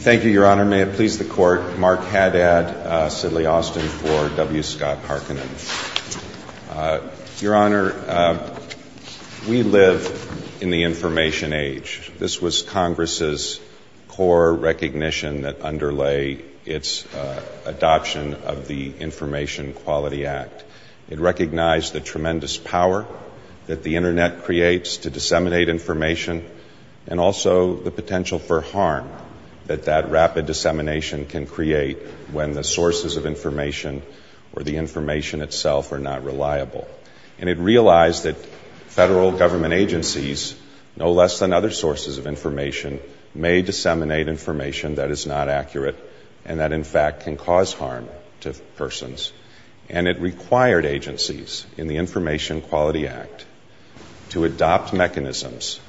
Thank you, Your Honor. May it please the Court, Mark Haddad, Sidley Austin for W. Scott Harkonen. Your Honor, we live in the information age. This was Congress's core recognition that underlay its adoption of the Information Quality Act. It recognized the tremendous power that the Internet creates to disseminate information and also the potential for harm that that rapid dissemination can create when the sources of information or the information itself are not reliable. And it realized that federal government agencies, no less than other sources of information, may disseminate information that is not accurate and that in fact can cause harm to persons. And it required agencies in the Information Quality Act to adopt mechanisms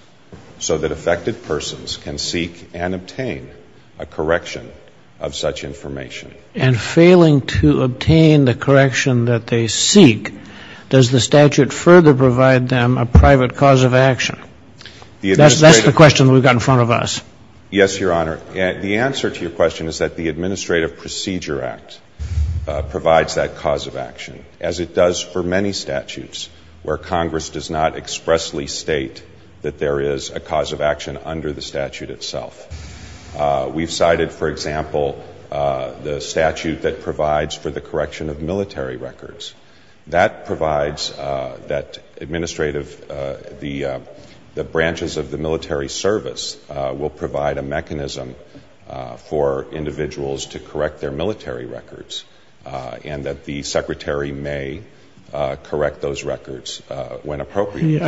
so that affected persons can seek and obtain a correction of such information. And failing to obtain the correction that they seek, does the statute further provide them a private cause of action? That's the question we've got in front of us. Yes, Your Honor. The answer to your question is that the Administrative Procedure Act provides that cause of action, as it does for many statutes where Congress does not expressly state that there is a cause of action under the statute itself. We've cited, for example, the statute that provides for the correction of military records. That provides that administrative the branches of the military service will provide a mechanism for individuals to correct their military records and that the Secretary may correct those records when appropriate.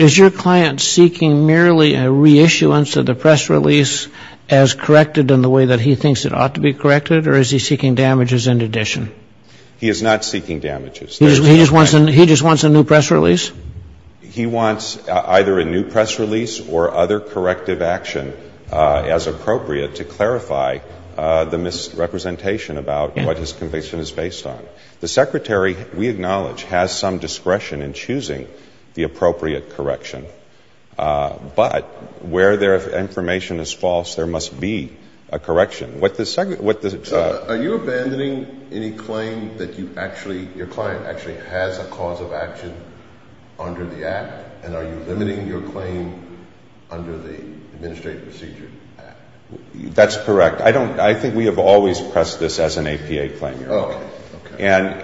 Is your client seeking merely a reissuance of the press release as corrected in the way that he thinks it ought to be corrected, or is he seeking damages in addition? He is not seeking damages. He just wants a new press release? He wants either a new press release or other corrective action as appropriate to clarify the misrepresentation about what his conviction is based on. The Secretary, we acknowledge, has some discretion in choosing the appropriate correction. But where there is information is false, there must be a correction. Are you abandoning any claim that you actually, your client actually has a cause of action under the Act? And are you limiting your claim under the Administrative Procedure Act? That's correct. I don't, I think we have always pressed this as an APA claim.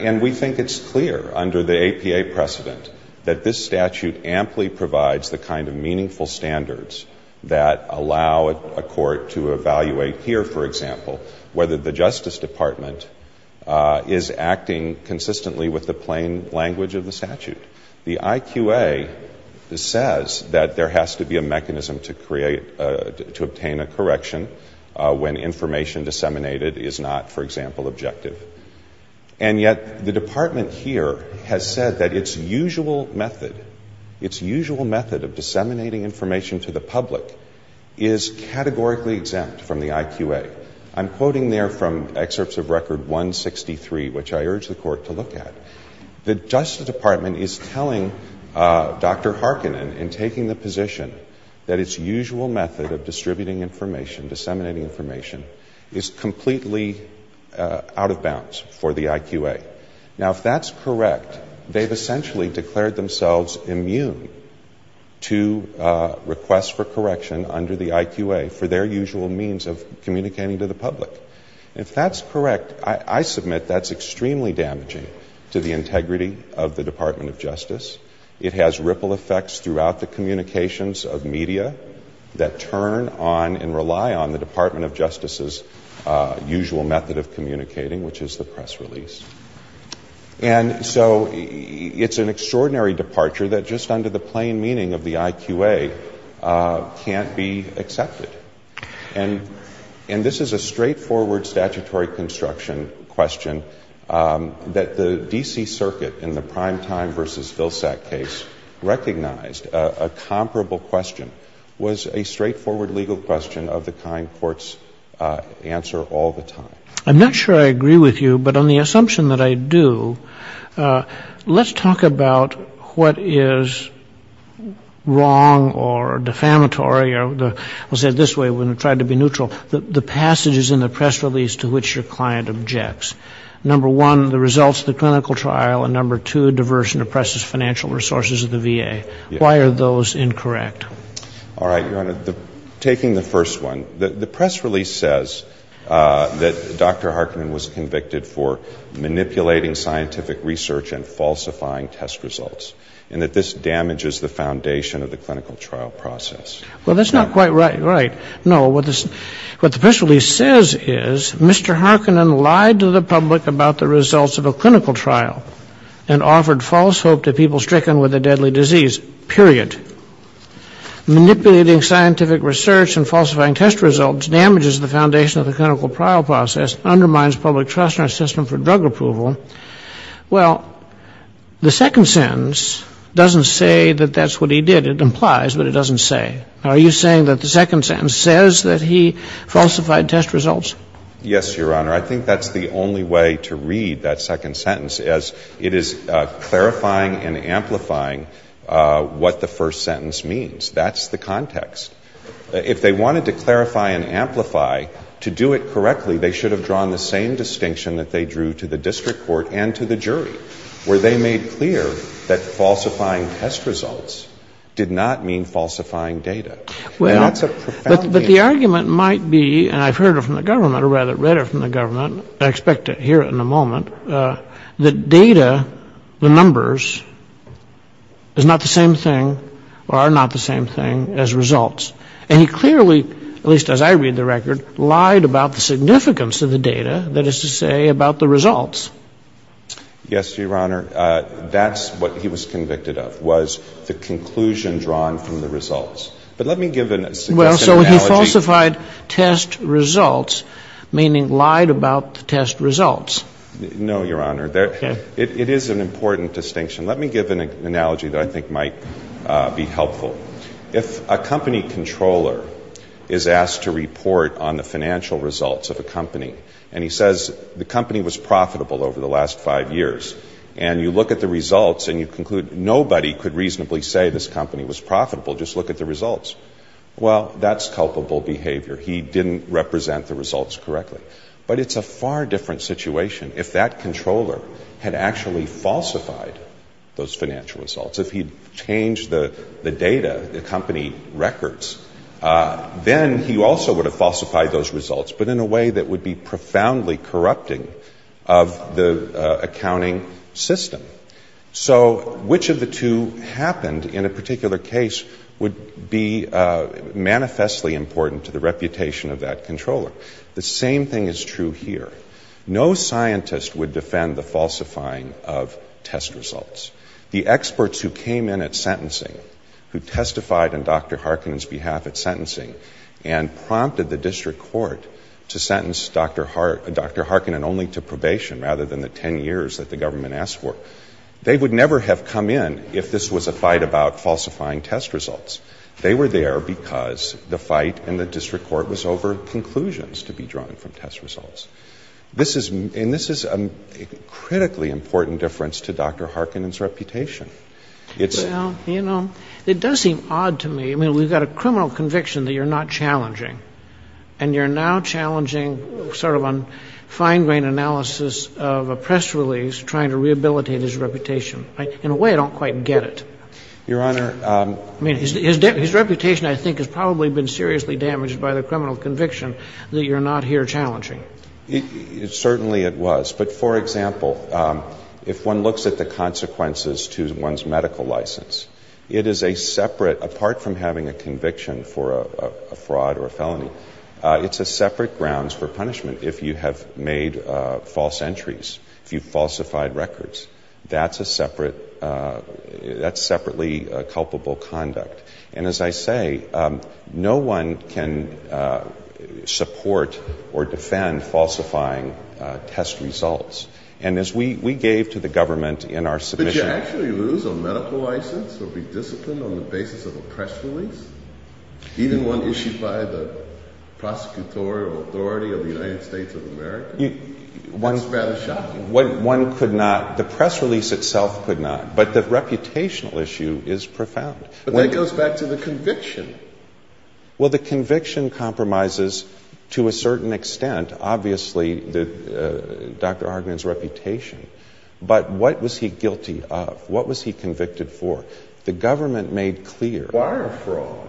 And we think it's clear under the APA precedent that this statute amply provides the kind of meaningful standards that allow a court to evaluate here, for example, whether the Justice Department is acting consistently with the plain language of the statute. The IQA says that there has to be a mechanism to create, to obtain a correction when information disseminated is not, for example, objective. And yet the Department here has said that its usual method, its usual method of disseminating information to the public is categorically exempt from the IQA. I'm quoting there from Excerpts of Record 163, which I urge the Court to look at. The Justice Department is telling Dr. Harkinen in taking the position that its usual method of distributing information, disseminating information, is completely out of bounds for the IQA. Now, if that's correct, they've essentially declared themselves immune to requests for correction under the IQA for their usual means of communicating to the public. If that's correct, I submit that's extremely damaging to the integrity of the Department of Justice. It has ripple effects throughout the communications of media that turn on and rely on the Department of Justice's usual method of communicating, which is the press release. And so it's an extraordinary departure that just under the plain meaning of the IQA can't be accepted. And this is a straightforward statutory construction question that the D.C. Supreme Court has been trying to answer for a number of years, and it's a straightforward legal question of the kind courts answer all the time. I'm not sure I agree with you, but on the assumption that I do, let's talk about what is wrong or defamatory, or I'll say it this way when we try to be neutral, the passages in the press release to which your client objects. Number one, the results of the clinical trial, and number two, diverse and oppressive financial resources of the VA. Why are those incorrect? All right, Your Honor. Taking the first one, the press release says that Dr. Harkinen was convicted for manipulating scientific research and falsifying test results, and that this damages the foundation of the clinical trial process. Well, that's not quite right. No, what the press release says is Mr. Harkinen lied to the public about the results of a clinical trial and offered false hope to people stricken with a deadly disease, period. Manipulating scientific research and falsifying test results damages the foundation of the clinical trial process, undermines public trust in our system for drug approval. Well, the second sentence doesn't say that that's what he did. It implies, but it doesn't say. Are you saying that the second sentence says that he falsified test results? Yes, Your Honor. I think that's the only way to read that second sentence, as it is clarifying and amplifying what the first sentence means. That's the context. If they wanted to clarify and amplify, to do it correctly, they should have drawn the same distinction that they drew to the district court and to the jury, where they made clear that falsifying test results did not mean falsifying data. Well, but the argument might be, and I've heard it from the government, or rather read it from the government, I expect to hear it in a moment, that data, the numbers, is not the same thing or are not the same thing as results. And he clearly, at least as I read the record, lied about the significance of the data, that is to say, about the results. Yes, Your Honor. That's what he was convicted of, was the conclusion drawn from the results. But let me give an analogy. Well, so he falsified test results, meaning lied about the test results. No, Your Honor. It is an important distinction. Let me give an analogy that I think might be helpful. If a company controller is asked to report on the financial results of a company and he says the company was profitable over the last five years, and you look at the results and you conclude nobody could reasonably say this company was profitable, just look at the results. Well, that's culpable behavior. He didn't represent the results correctly. But it's a far different situation if that controller had actually falsified those financial results. If he'd changed the data, the company records, then he also would have falsified those results, but in a way that would be profoundly corrupting of the accounting system. So, which of the two happened in a particular case would be manifestly important to the reputation of that controller. The same thing is true here. No scientist would defend the falsifying of test results. The experts who came in at sentencing, who testified on Dr. Harkin's behalf at sentencing and prompted the district court to sentence Dr. Harkin and only to probation rather than the ten years that the government asked for, they would never have come in if this was a fight about falsifying test results. They were there because the fight in the district court was over conclusions to be drawn from test results. This is a critically important difference to Dr. Harkin's reputation. Well, you know, it does seem odd to me. I mean, we've got a criminal conviction that you're not challenging, and you're now challenging sort of a fine-grained analysis of a press release trying to rehabilitate his reputation. In a way, I don't quite get it. Your Honor — I mean, his reputation, I think, has probably been seriously damaged by the criminal conviction that you're not here challenging. Certainly it was. But, for example, if one looks at the consequences to one's medical license, it is a separate — apart from having a conviction for a fraud or a felony, it's a separate grounds for punishment if you have made false entries, if you've falsified records. That's a separate — that's separately culpable conduct. And as I say, no one can support or defend falsifying test results. And as we gave to the government in our submission — Well, the conviction compromises, to a certain extent, obviously, Dr. Harkin's reputation. But what was he guilty of? What was he convicted for? The government made clear — Wire fraud.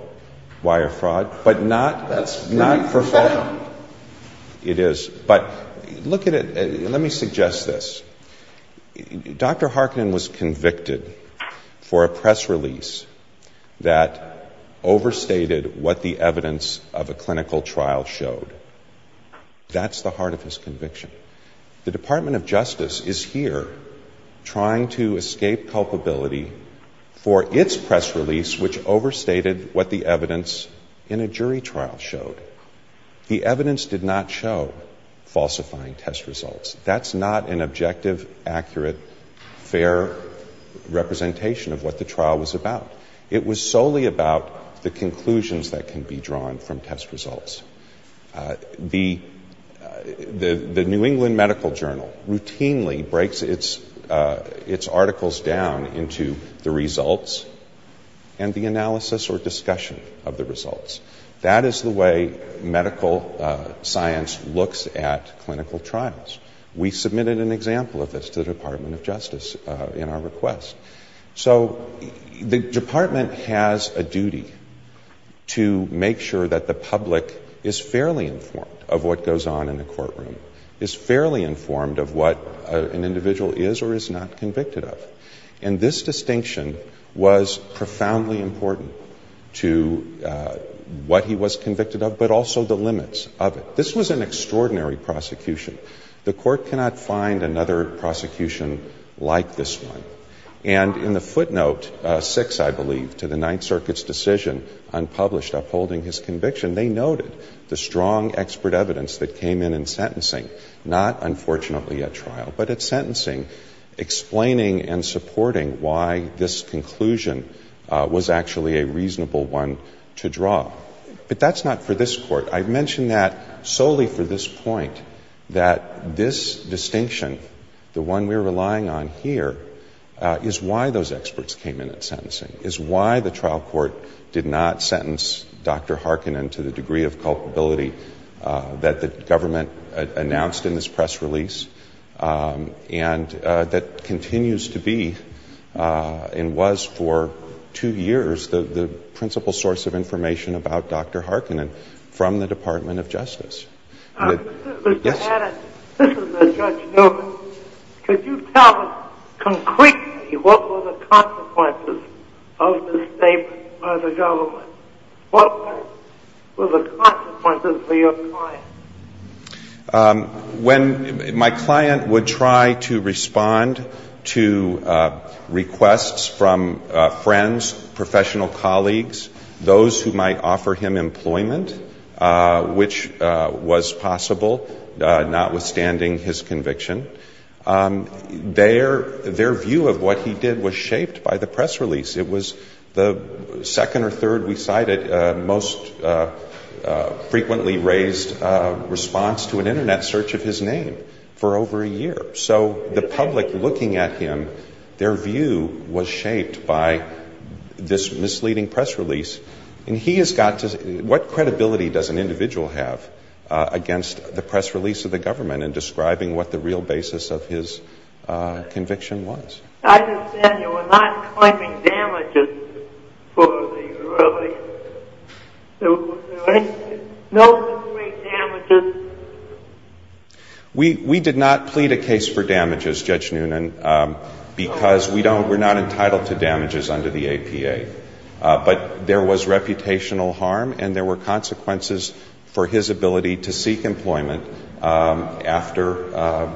Wire fraud. But not — That's pretty profound. It is. But look at it — let me suggest this. Dr. Harkin was convicted for a press release that overstated what the evidence of a clinical trial showed. That's the heart of his conviction. The Department of Justice is here trying to escape culpability for its press release, which overstated what the evidence in a jury trial showed. The evidence did not show falsifying test results. That's not an objective, accurate, fair representation of what the trial was about. It was solely about the conclusions that can be drawn from test results. The New England Medical Journal routinely breaks its articles down into the results and the analysis or discussion of the results. That is the way medical science looks at clinical trials. We submitted an example of this to the Department of Justice in our request. So the Department has a duty to make sure that the public is fairly informed of what goes on in the courtroom, is fairly informed of what an individual is or is not convicted of. And this distinction was profoundly important to what he was convicted of, but also the limits of it. This was an extraordinary prosecution. The court cannot find another prosecution like this one. And in the footnote 6, I believe, to the Ninth Circuit's decision on published upholding his conviction, they noted the strong expert evidence that came in in sentencing, not unfortunately at trial, but at sentencing, explaining and supporting why this conclusion was actually a reasonable one to draw. But that's not for this court. I mention that solely for this point, that this distinction, the one we're relying on here, is why those experts came in at sentencing, is why the trial court did not sentence Dr. Harkonnen to the degree of culpability that the government announced in this press release and that continues to be and was for two years in the Department of Justice. Mr. Hannon, this is Judge Newman. Could you tell us concretely what were the consequences of this statement by the government? What were the consequences for your client? When my client would try to respond to requests from friends, professional colleagues, those who might offer him employment, which was possible, notwithstanding his conviction, their view of what he did was shaped by the press release. It was the second or third we cited most frequently raised response to an Internet search of his name for over a year. So the public looking at him, their view was shaped by this misleading press release. And he has got to say, what credibility does an individual have against the press release of the government in describing what the real basis of his conviction was? I understand you were not claiming damages for the release. No real damages? We did not plead a case for damages, Judge Newman, because we don't we're not entitled to damages under the APA. But there was reputational harm and there were consequences for his ability to seek employment after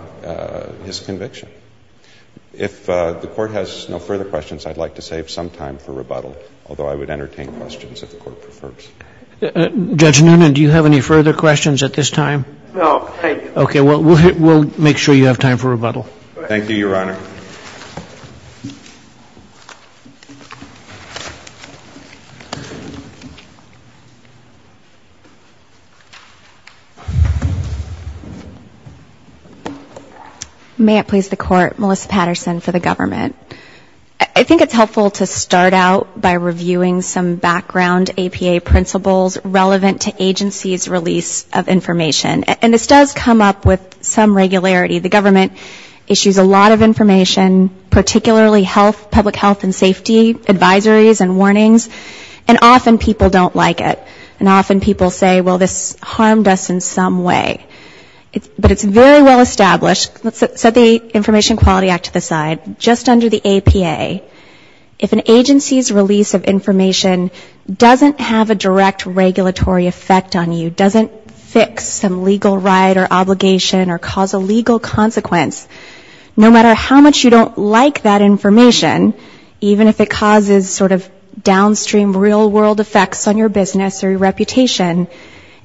his conviction. If the Court has no further questions, I'd like to save some time for rebuttal, although I would entertain questions if the Court prefers. Judge Newman, do you have any further questions at this time? No, thank you. Okay. Well, we'll make sure you have time for rebuttal. Thank you, Your Honor. May it please the Court, Melissa Patterson for the government. I think it's helpful to start out by understanding the principles relevant to agencies' release of information. And this does come up with some regularity. The government issues a lot of information, particularly health, public health and safety advisories and warnings, and often people don't like it. And often people say, well, this harmed us in some way. But it's very well established. Let's set the Information Quality Act to the side. Just under the APA, if an agency's release of information doesn't have a direct regulatory effect on you, doesn't fix some legal right or obligation or cause a legal consequence, no matter how much you don't like that information, even if it causes sort of downstream real-world effects on your business or your reputation,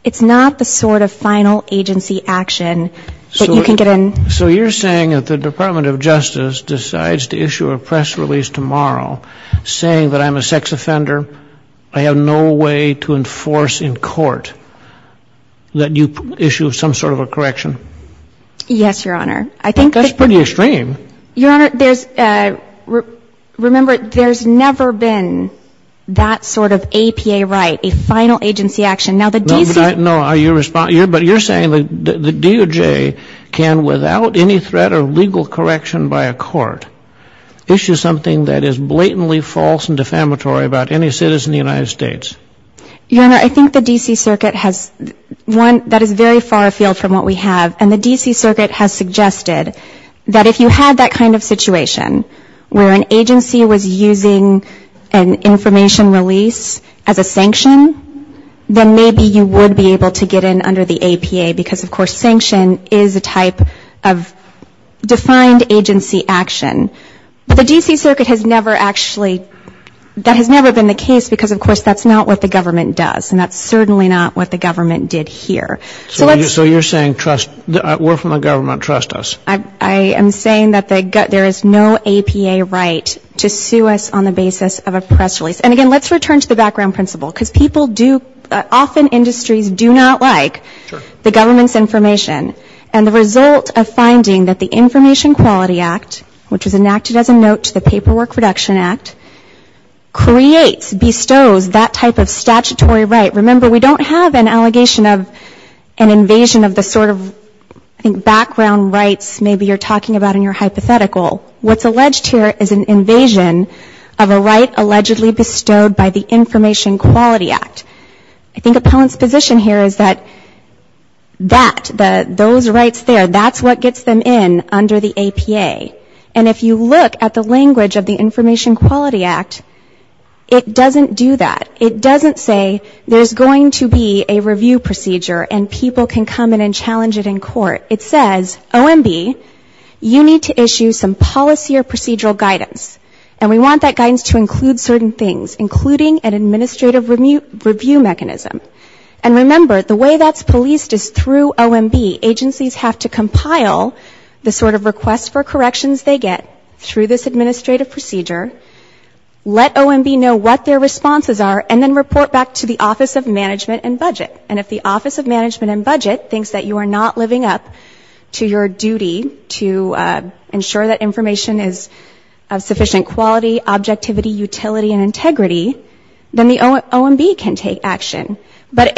it's not the sort of final agency action that you can get in. So you're saying that the Department of Justice decides to issue a press release tomorrow saying that I'm entitled to information, I'm a sex offender, I have no way to enforce in court, that you issue some sort of a correction? Yes, Your Honor. I think that's pretty extreme. Your Honor, there's, remember, there's never been that sort of APA right, a final agency action. Now, the D.C. No, but you're saying the DOJ can, without any threat of legal correction by a court, issue something that is blatantly false and defamatory about any citizen of the United States? Your Honor, I think the D.C. Circuit has, one, that is very far afield from what we have, and the D.C. Circuit has suggested that if you had that kind of situation where an agency was using an information release as a sanction, then maybe you would be able to get in under the APA, because, of course, sanction is a type of defined agency action. But the D.C. Circuit has never actually, that has never been the case, because, of course, that's not what the government does, and that's certainly not what the government did here. So you're saying, trust, we're from the government, trust us? I am saying that there is no APA right to sue us on the basis of a press release. And, again, let's return to the background principle, because people do, often industries do not like the government's information, and the result of finding that the information is enacted as a note to the Paperwork Reduction Act creates, bestows that type of statutory right. Remember, we don't have an allegation of an invasion of the sort of, I think, background rights maybe you're talking about in your hypothetical. What's alleged here is an invasion of a right allegedly bestowed by the Information Quality Act. I think appellant's position here is that that, those rights there, that's what gets them in under the APA. And if you look at the language of the Information Quality Act, it doesn't do that. It doesn't say there's going to be a review procedure and people can come in and challenge it in court. It says, OMB, you need to issue some policy or procedural guidance, and we want that guidance to include certain things, including an administrative review mechanism. And remember, the way that's policed is through OMB. Agencies have to compile the sort of request for corrections they get through this administrative procedure, let OMB know what their responses are, and then report back to the Office of Management and Budget. And if the Office of Management and Budget thinks that you are not living up to your duty to ensure that information is of sufficient quality, objectivity, utility, and integrity, then the OMB can take action. But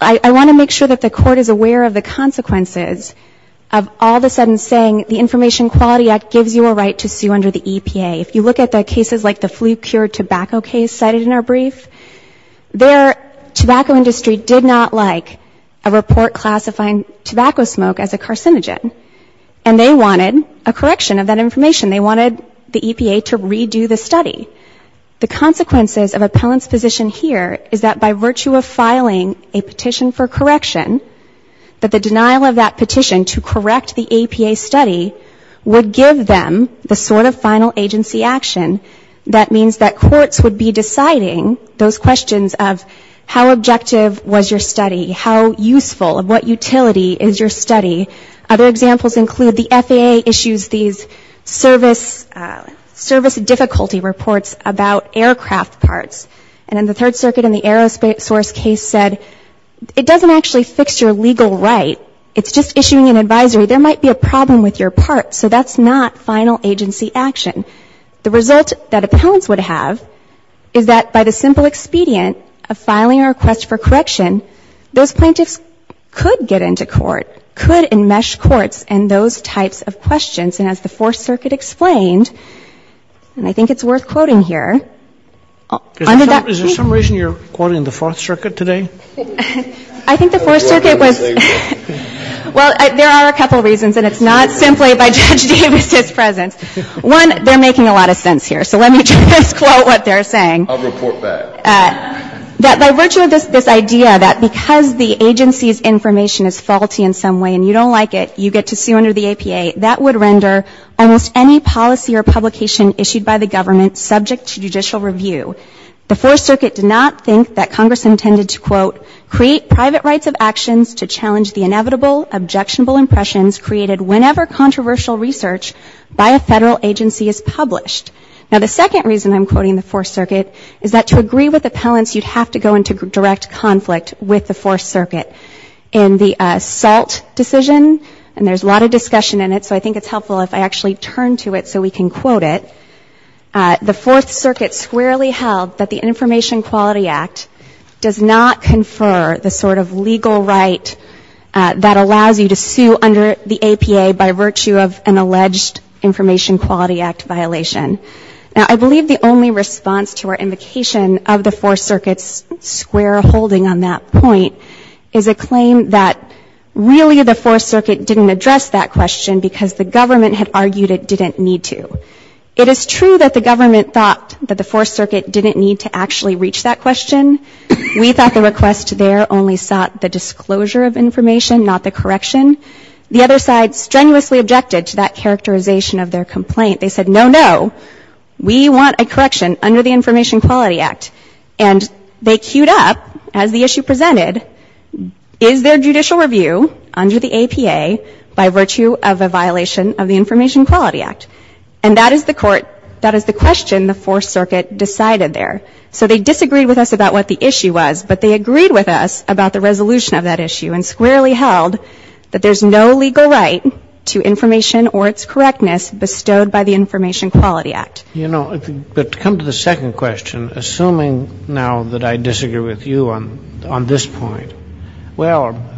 I want to make sure that the court is aware of the consequences of all of a sudden saying the Information Quality Act gives you a right to sue under the EPA. If you look at the cases like the flu-cured tobacco case cited in our brief, their tobacco industry did not like a report classifying tobacco smoke as a carcinogen, and they wanted a correction of that information. They wanted the EPA to redo the study. The consequences of appellant's position here is that by virtue of filing a petition for correction, that the denial of that petition to correct the EPA study would give them the sort of final agency action that means that courts would be deciding those questions of how objective was your study, how useful, what utility is your study. Other examples include the FAA issues these service difficulty reports about aircraft parts. And then the Third Circuit in the aerospace case said it doesn't actually fix your legal right, it's just issuing a correction advisory, there might be a problem with your part, so that's not final agency action. The result that appellants would have is that by the simple expedient of filing a request for correction, those plaintiffs could get into court, could enmesh courts in those types of questions. And as the Fourth Circuit explained, and I think it's worth quoting here, under that case... Sotomayor Is there some reason you're quoting the Fourth Circuit today? I think the Fourth Circuit was... Well, there are a couple reasons, and it's not simply by Judge Davis's presence. One, they're making a lot of sense here, so let me just quote what they're saying. I'll report back. That by virtue of this idea that because the agency's information is faulty in some way and you don't like it, you get to sue under the EPA, that would render almost any policy or publication issued by the government subject to judicial review. The Fourth Circuit did not think that Congress intended to, quote, create private rights of actions to challenge the inevitable objectionable impressions created whenever controversial research by a federal agency is published. Now, the second reason I'm quoting the Fourth Circuit is that to agree with appellants, you'd have to go into direct conflict with the Fourth Circuit. So I think it's helpful if I actually turn to it so we can quote it. The Fourth Circuit squarely held that the Information Quality Act does not confer the sort of legal right that allows you to sue under the EPA by virtue of an alleged Information Quality Act violation. Now, I believe the only response to our invocation of the Fourth Circuit's square holding on that point is a claim that really the Fourth Circuit did not reach that question because the government had argued it didn't need to. It is true that the government thought that the Fourth Circuit didn't need to actually reach that question. We thought the request there only sought the disclosure of information, not the correction. The other side strenuously objected to that characterization of their complaint. They said, no, no, we want a correction under the Information Quality Act. And they queued up, as the issue presented, is there judicial review under the APA by virtue of a violation of the Information Quality Act? And that is the court, that is the question the Fourth Circuit decided there. So they disagreed with us about what the issue was, but they agreed with us about the resolution of that issue and squarely held that there's no legal right to information or its correctness bestowed by the Information Quality Act. You know, but to come to the second question, assuming now that I disagree with you on this point, well,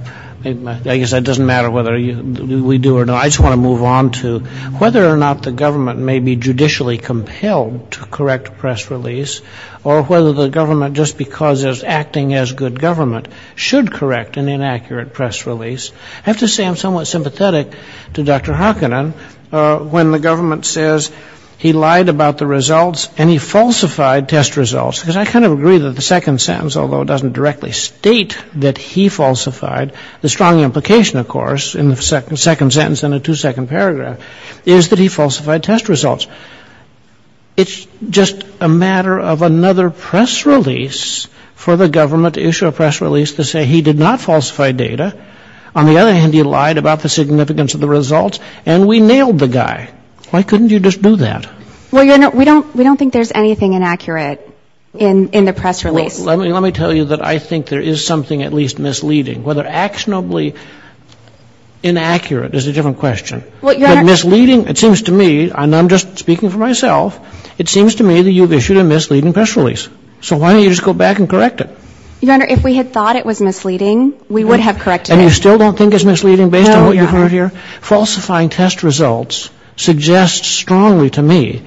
I guess that doesn't matter whether we do or not, I just want to move on to whether or not the government may be judicially compelled to correct a press release, or whether the government, just because it's acting as good government, should correct an inaccurate press release. I have to say I'm somewhat sympathetic to Dr. Hockennan when the government says he lied about the Fourth Circuit's results and he falsified test results, because I kind of agree that the second sentence, although it doesn't directly state that he falsified, the strong implication, of course, in the second sentence and the two-second paragraph, is that he falsified test results. It's just a matter of another press release for the government to issue a press release to say he did not falsify data. On the other hand, he lied about the significance of the results, and we nailed the guy. Why couldn't you just do that? Well, Your Honor, we don't think there's anything inaccurate in the press release. Well, let me tell you that I think there is something at least misleading. Whether actionably inaccurate is a different question. But misleading, it seems to me, and I'm just speaking for myself, it seems to me that you've issued a misleading press release. So why don't you just go back and correct it? Your Honor, if we had thought it was misleading, we would have corrected it. And you still don't think it's misleading based on what you've heard here? No, Your Honor. Falsifying test results suggests strongly to me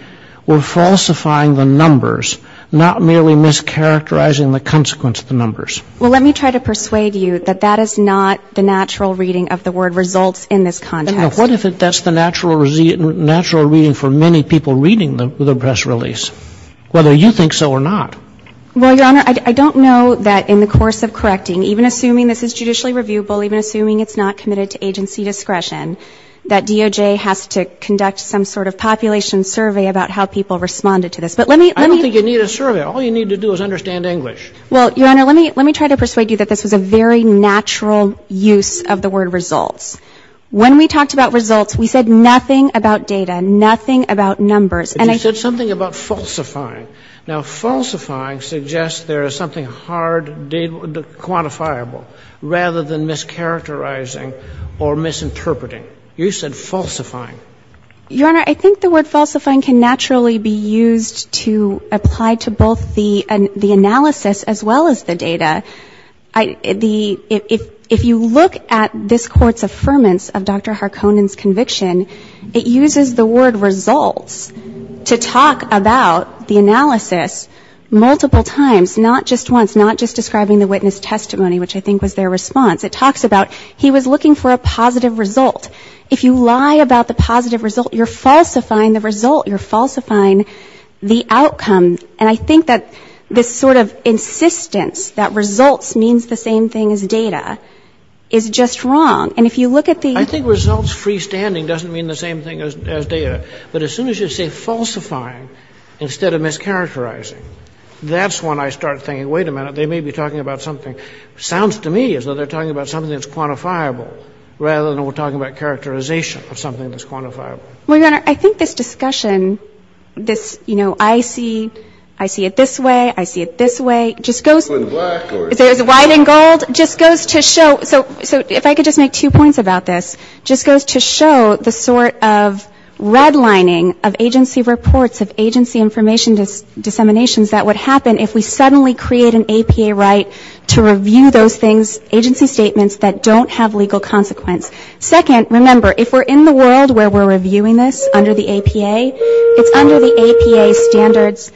we're falsifying the numbers, not merely mischaracterizing the consequence of the numbers. Well, let me try to persuade you that that is not the natural reading of the word results in this context. What if that's the natural reading for many people reading the press release, whether you think so or not? Well, Your Honor, I don't know that in the course of correcting, even assuming this is judicially reviewable, even assuming it's not committed to agency discretion, that DOJ has to conduct some sort of population survey about how people responded to this. I don't think you need a survey. All you need to do is understand English. Well, Your Honor, let me try to persuade you that this was a very natural use of the word results. When we talked about results, we said nothing about data, nothing about numbers. But you said something about falsifying. Now, falsifying suggests there is something hard, quantifiable, rather than mischaracterizing or misinterpreting. You said falsifying. Your Honor, I think the word falsifying can naturally be used to apply to both the analysis as well as the data. If you look at this Court's affirmance of Dr. Harkonnen's conviction, it uses the word results to talk about the analysis multiple times, not just once, not just describing the witness testimony, which I think was their response. It talks about he was looking for a positive result. If you lie about the positive result, you're falsifying the result, you're falsifying the outcome. And I think that this sort of insistence that results means the same thing as data is just wrong. And if you look at the... I think results freestanding doesn't mean the same thing as data, but as soon as you say falsifying instead of mischaracterizing, that's when I start thinking, wait a minute, they may be talking about something that sounds to me as though they're talking about something that's quantifiable, rather than we're talking about characterization of something that's quantifiable. Well, Your Honor, I think this discussion, this, you know, I see it this way, I see it this way, just goes to show... So if I could just make two points about this, just goes to show the sort of redlining of agency reports, of agency information disseminations that would happen if we suddenly create an APA right to review those things, agency statements that don't have legal consequence. Second, remember, if we're in the world where we're reviewing this under the APA, it's under the APA standards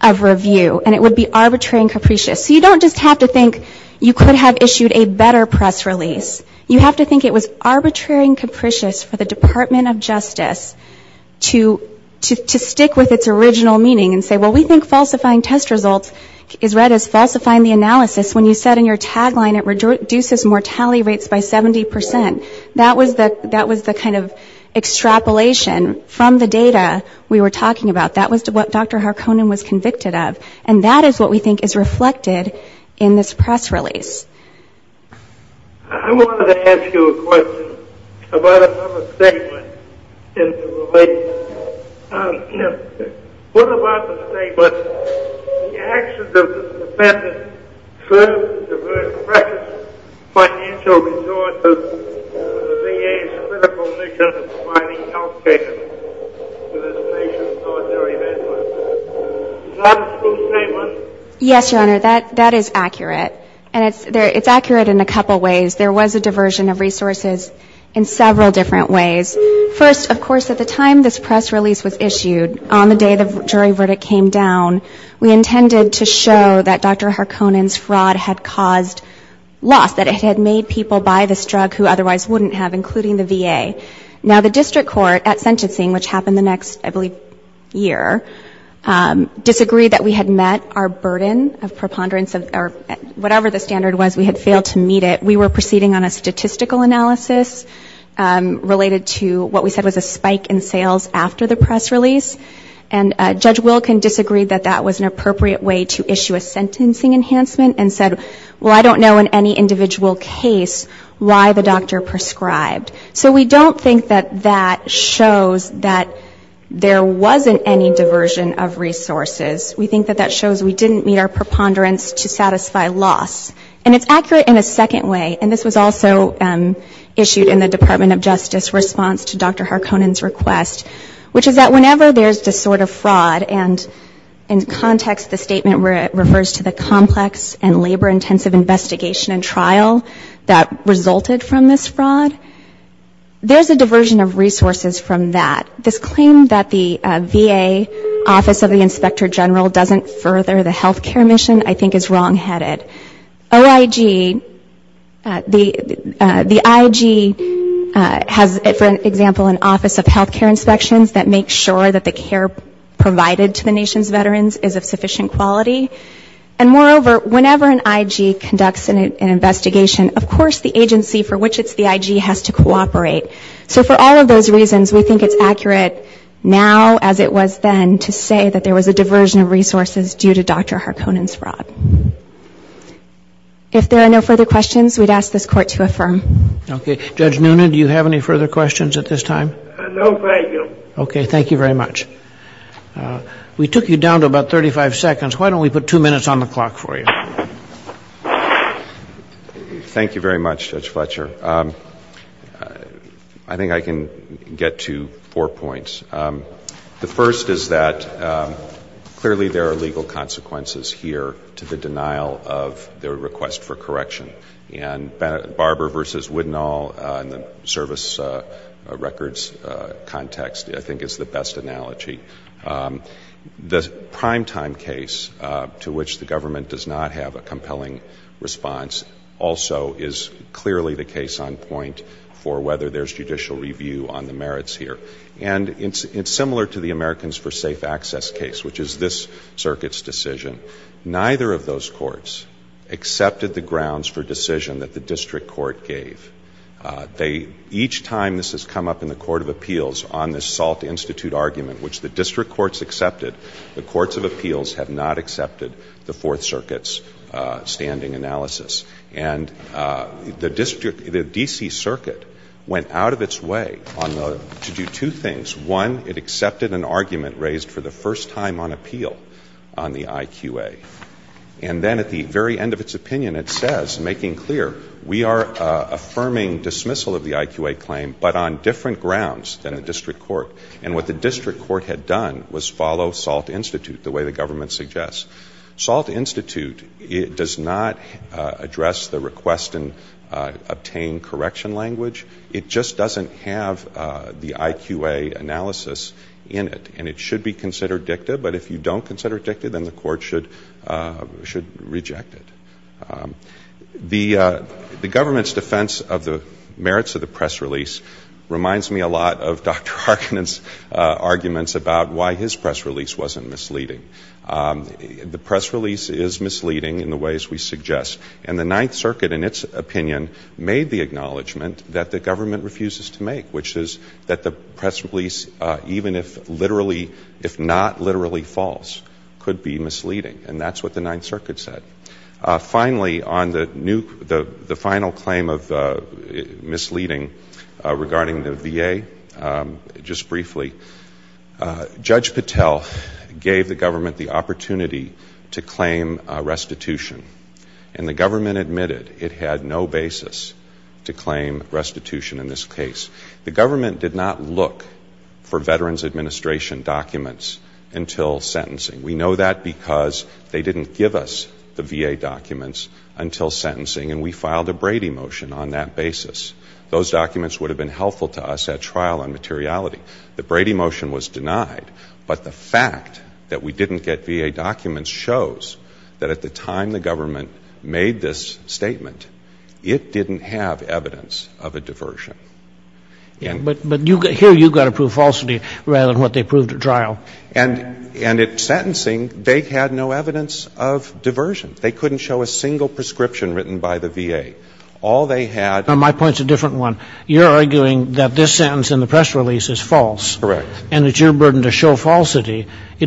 of review, and it would be arbitrary and capricious. So you don't just have to think you could have issued a better press release. You have to think it was arbitrary and capricious for the Department of Justice to stick with its original meaning and say, well, we think falsifying test results is read as falsifying the analysis when you said in your tagline it reduces mortality rates by 70%. That was the kind of extrapolation from the data we were talking about. That was what Dr. Harkonnen was convicted of, and that is what we think is reflected in this press release. I wanted to ask you a question about another statement in the release. You know, what about the statement, the actions of the defendant served to divert precious financial resources for the VA's critical mission of providing health care to this nation's ordinary veterans? Is that a true statement? Yes, Your Honor, that is accurate. And it's accurate in a couple ways. There was a diversion of resources in several different ways. First, of course, at the time this press release was issued, on the day the jury verdict came down, we intended to show that Dr. Harkonnen's fraud had caused loss, that it had made people buy this drug who otherwise wouldn't have, including the VA. Now, the district court at sentencing, which happened the next, I believe, year, disagreed that we had met our burden of preponderance, or whatever the standard was, we had failed to meet it. We were proceeding on a statistical analysis related to what we said was a spike in sales after the press release, and Judge Wilkin disagreed that that was an appropriate way to issue a sentencing enhancement and said, well, I don't know in any individual case why the doctor prescribed. So we don't think that that shows that there wasn't any diversion of resources. We think that that shows we didn't meet our preponderance to satisfy loss. And it's accurate in a second way, and this was also issued in the Department of Justice response to Dr. Harkonnen's request, which is that whenever there's this sort of fraud, and in context the statement refers to the complex and labor-intensive investigation and trial that resulted from this fraud, there's a diversion of resources from that. This claim that the VA Office of the Inspector General doesn't further the healthcare mission, I think, is wrongheaded. OIG, the IG has, for example, an Office of Healthcare Inspections that makes sure that the care provided to the nation's veterans is of sufficient quality. And moreover, whenever an IG conducts an investigation, of course the agency for which it's the IG has to cooperate. So for all of those reasons, we think it's accurate now as it was then to say that there was a diversion of resources due to Dr. Harkonnen's fraud. If there are no further questions, we'd ask this Court to affirm. Okay. Judge Noonan, do you have any further questions at this time? No, thank you. Okay. Thank you very much. We took you down to about 35 seconds. Why don't we put two minutes on the clock for you? Thank you very much, Judge Fletcher. I think I can get to four points. One is the request for correction. And Barber v. Widnall in the service records context, I think, is the best analogy. The primetime case to which the government does not have a compelling response also is clearly the case on point for whether there's judicial review on the merits here. And it's similar to the Americans for Safe Access case, which is this Circuit's decision. Neither of those courts accepted the grounds for decision that the District Court gave. Each time this has come up in the Court of Appeals on this Salt Institute argument, which the District Courts accepted, the Courts of Appeals have not accepted the Fourth Circuit's standing analysis. And the D.C. Circuit went out of its way to do two things. One, it accepted an argument raised for the first time on appeal on the IQA. And then at the very end of its opinion, it says, making clear, we are affirming dismissal of the IQA claim, but on different grounds than the District Court. And what the District Court had done was follow Salt Institute, the way the government suggests. Salt Institute does not address the request and obtain correction language. It just doesn't have the IQA analysis in it, and it should be considered dicta. But if you don't consider dicta, then the Court should reject it. The government's defense of the merits of the press release reminds me a lot of Dr. Arkinon's arguments about why his press release wasn't misleading. The press release is misleading in the ways we suggest. And the Ninth Circuit, in its opinion, made the acknowledgment that the government refuses to make, which is that the press release, even if not literally false, could be misleading. And that's what the Ninth Circuit said. Finally, on the final claim of misleading regarding the VA, just briefly, Judge Patel gave the government the opportunity to claim restitution. And the government admitted it had no basis to claim restitution in this case. The government did not look for Veterans Administration documents until sentencing. We know that because they didn't give us the VA documents until sentencing, and we filed a Brady motion on that basis. Those documents would have been helpful to us at trial on materiality. The Brady motion was denied, but the fact that we didn't get VA documents shows that at the time the government made this statement, it didn't have evidence of a diversion. But here you've got to prove falsity rather than what they proved at trial. And at sentencing, they had no evidence of diversion. They couldn't show a single prescription written by the VA. All they had... It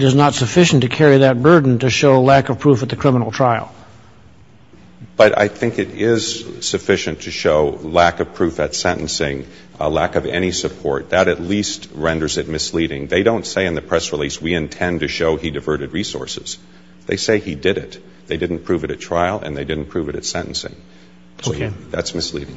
is not sufficient to carry that burden to show lack of proof at the criminal trial. But I think it is sufficient to show lack of proof at sentencing, a lack of any support. That at least renders it misleading. They don't say in the press release, we intend to show he diverted resources. They say he did it. They didn't prove it at trial, and they didn't prove it at sentencing. That's misleading. Thank you.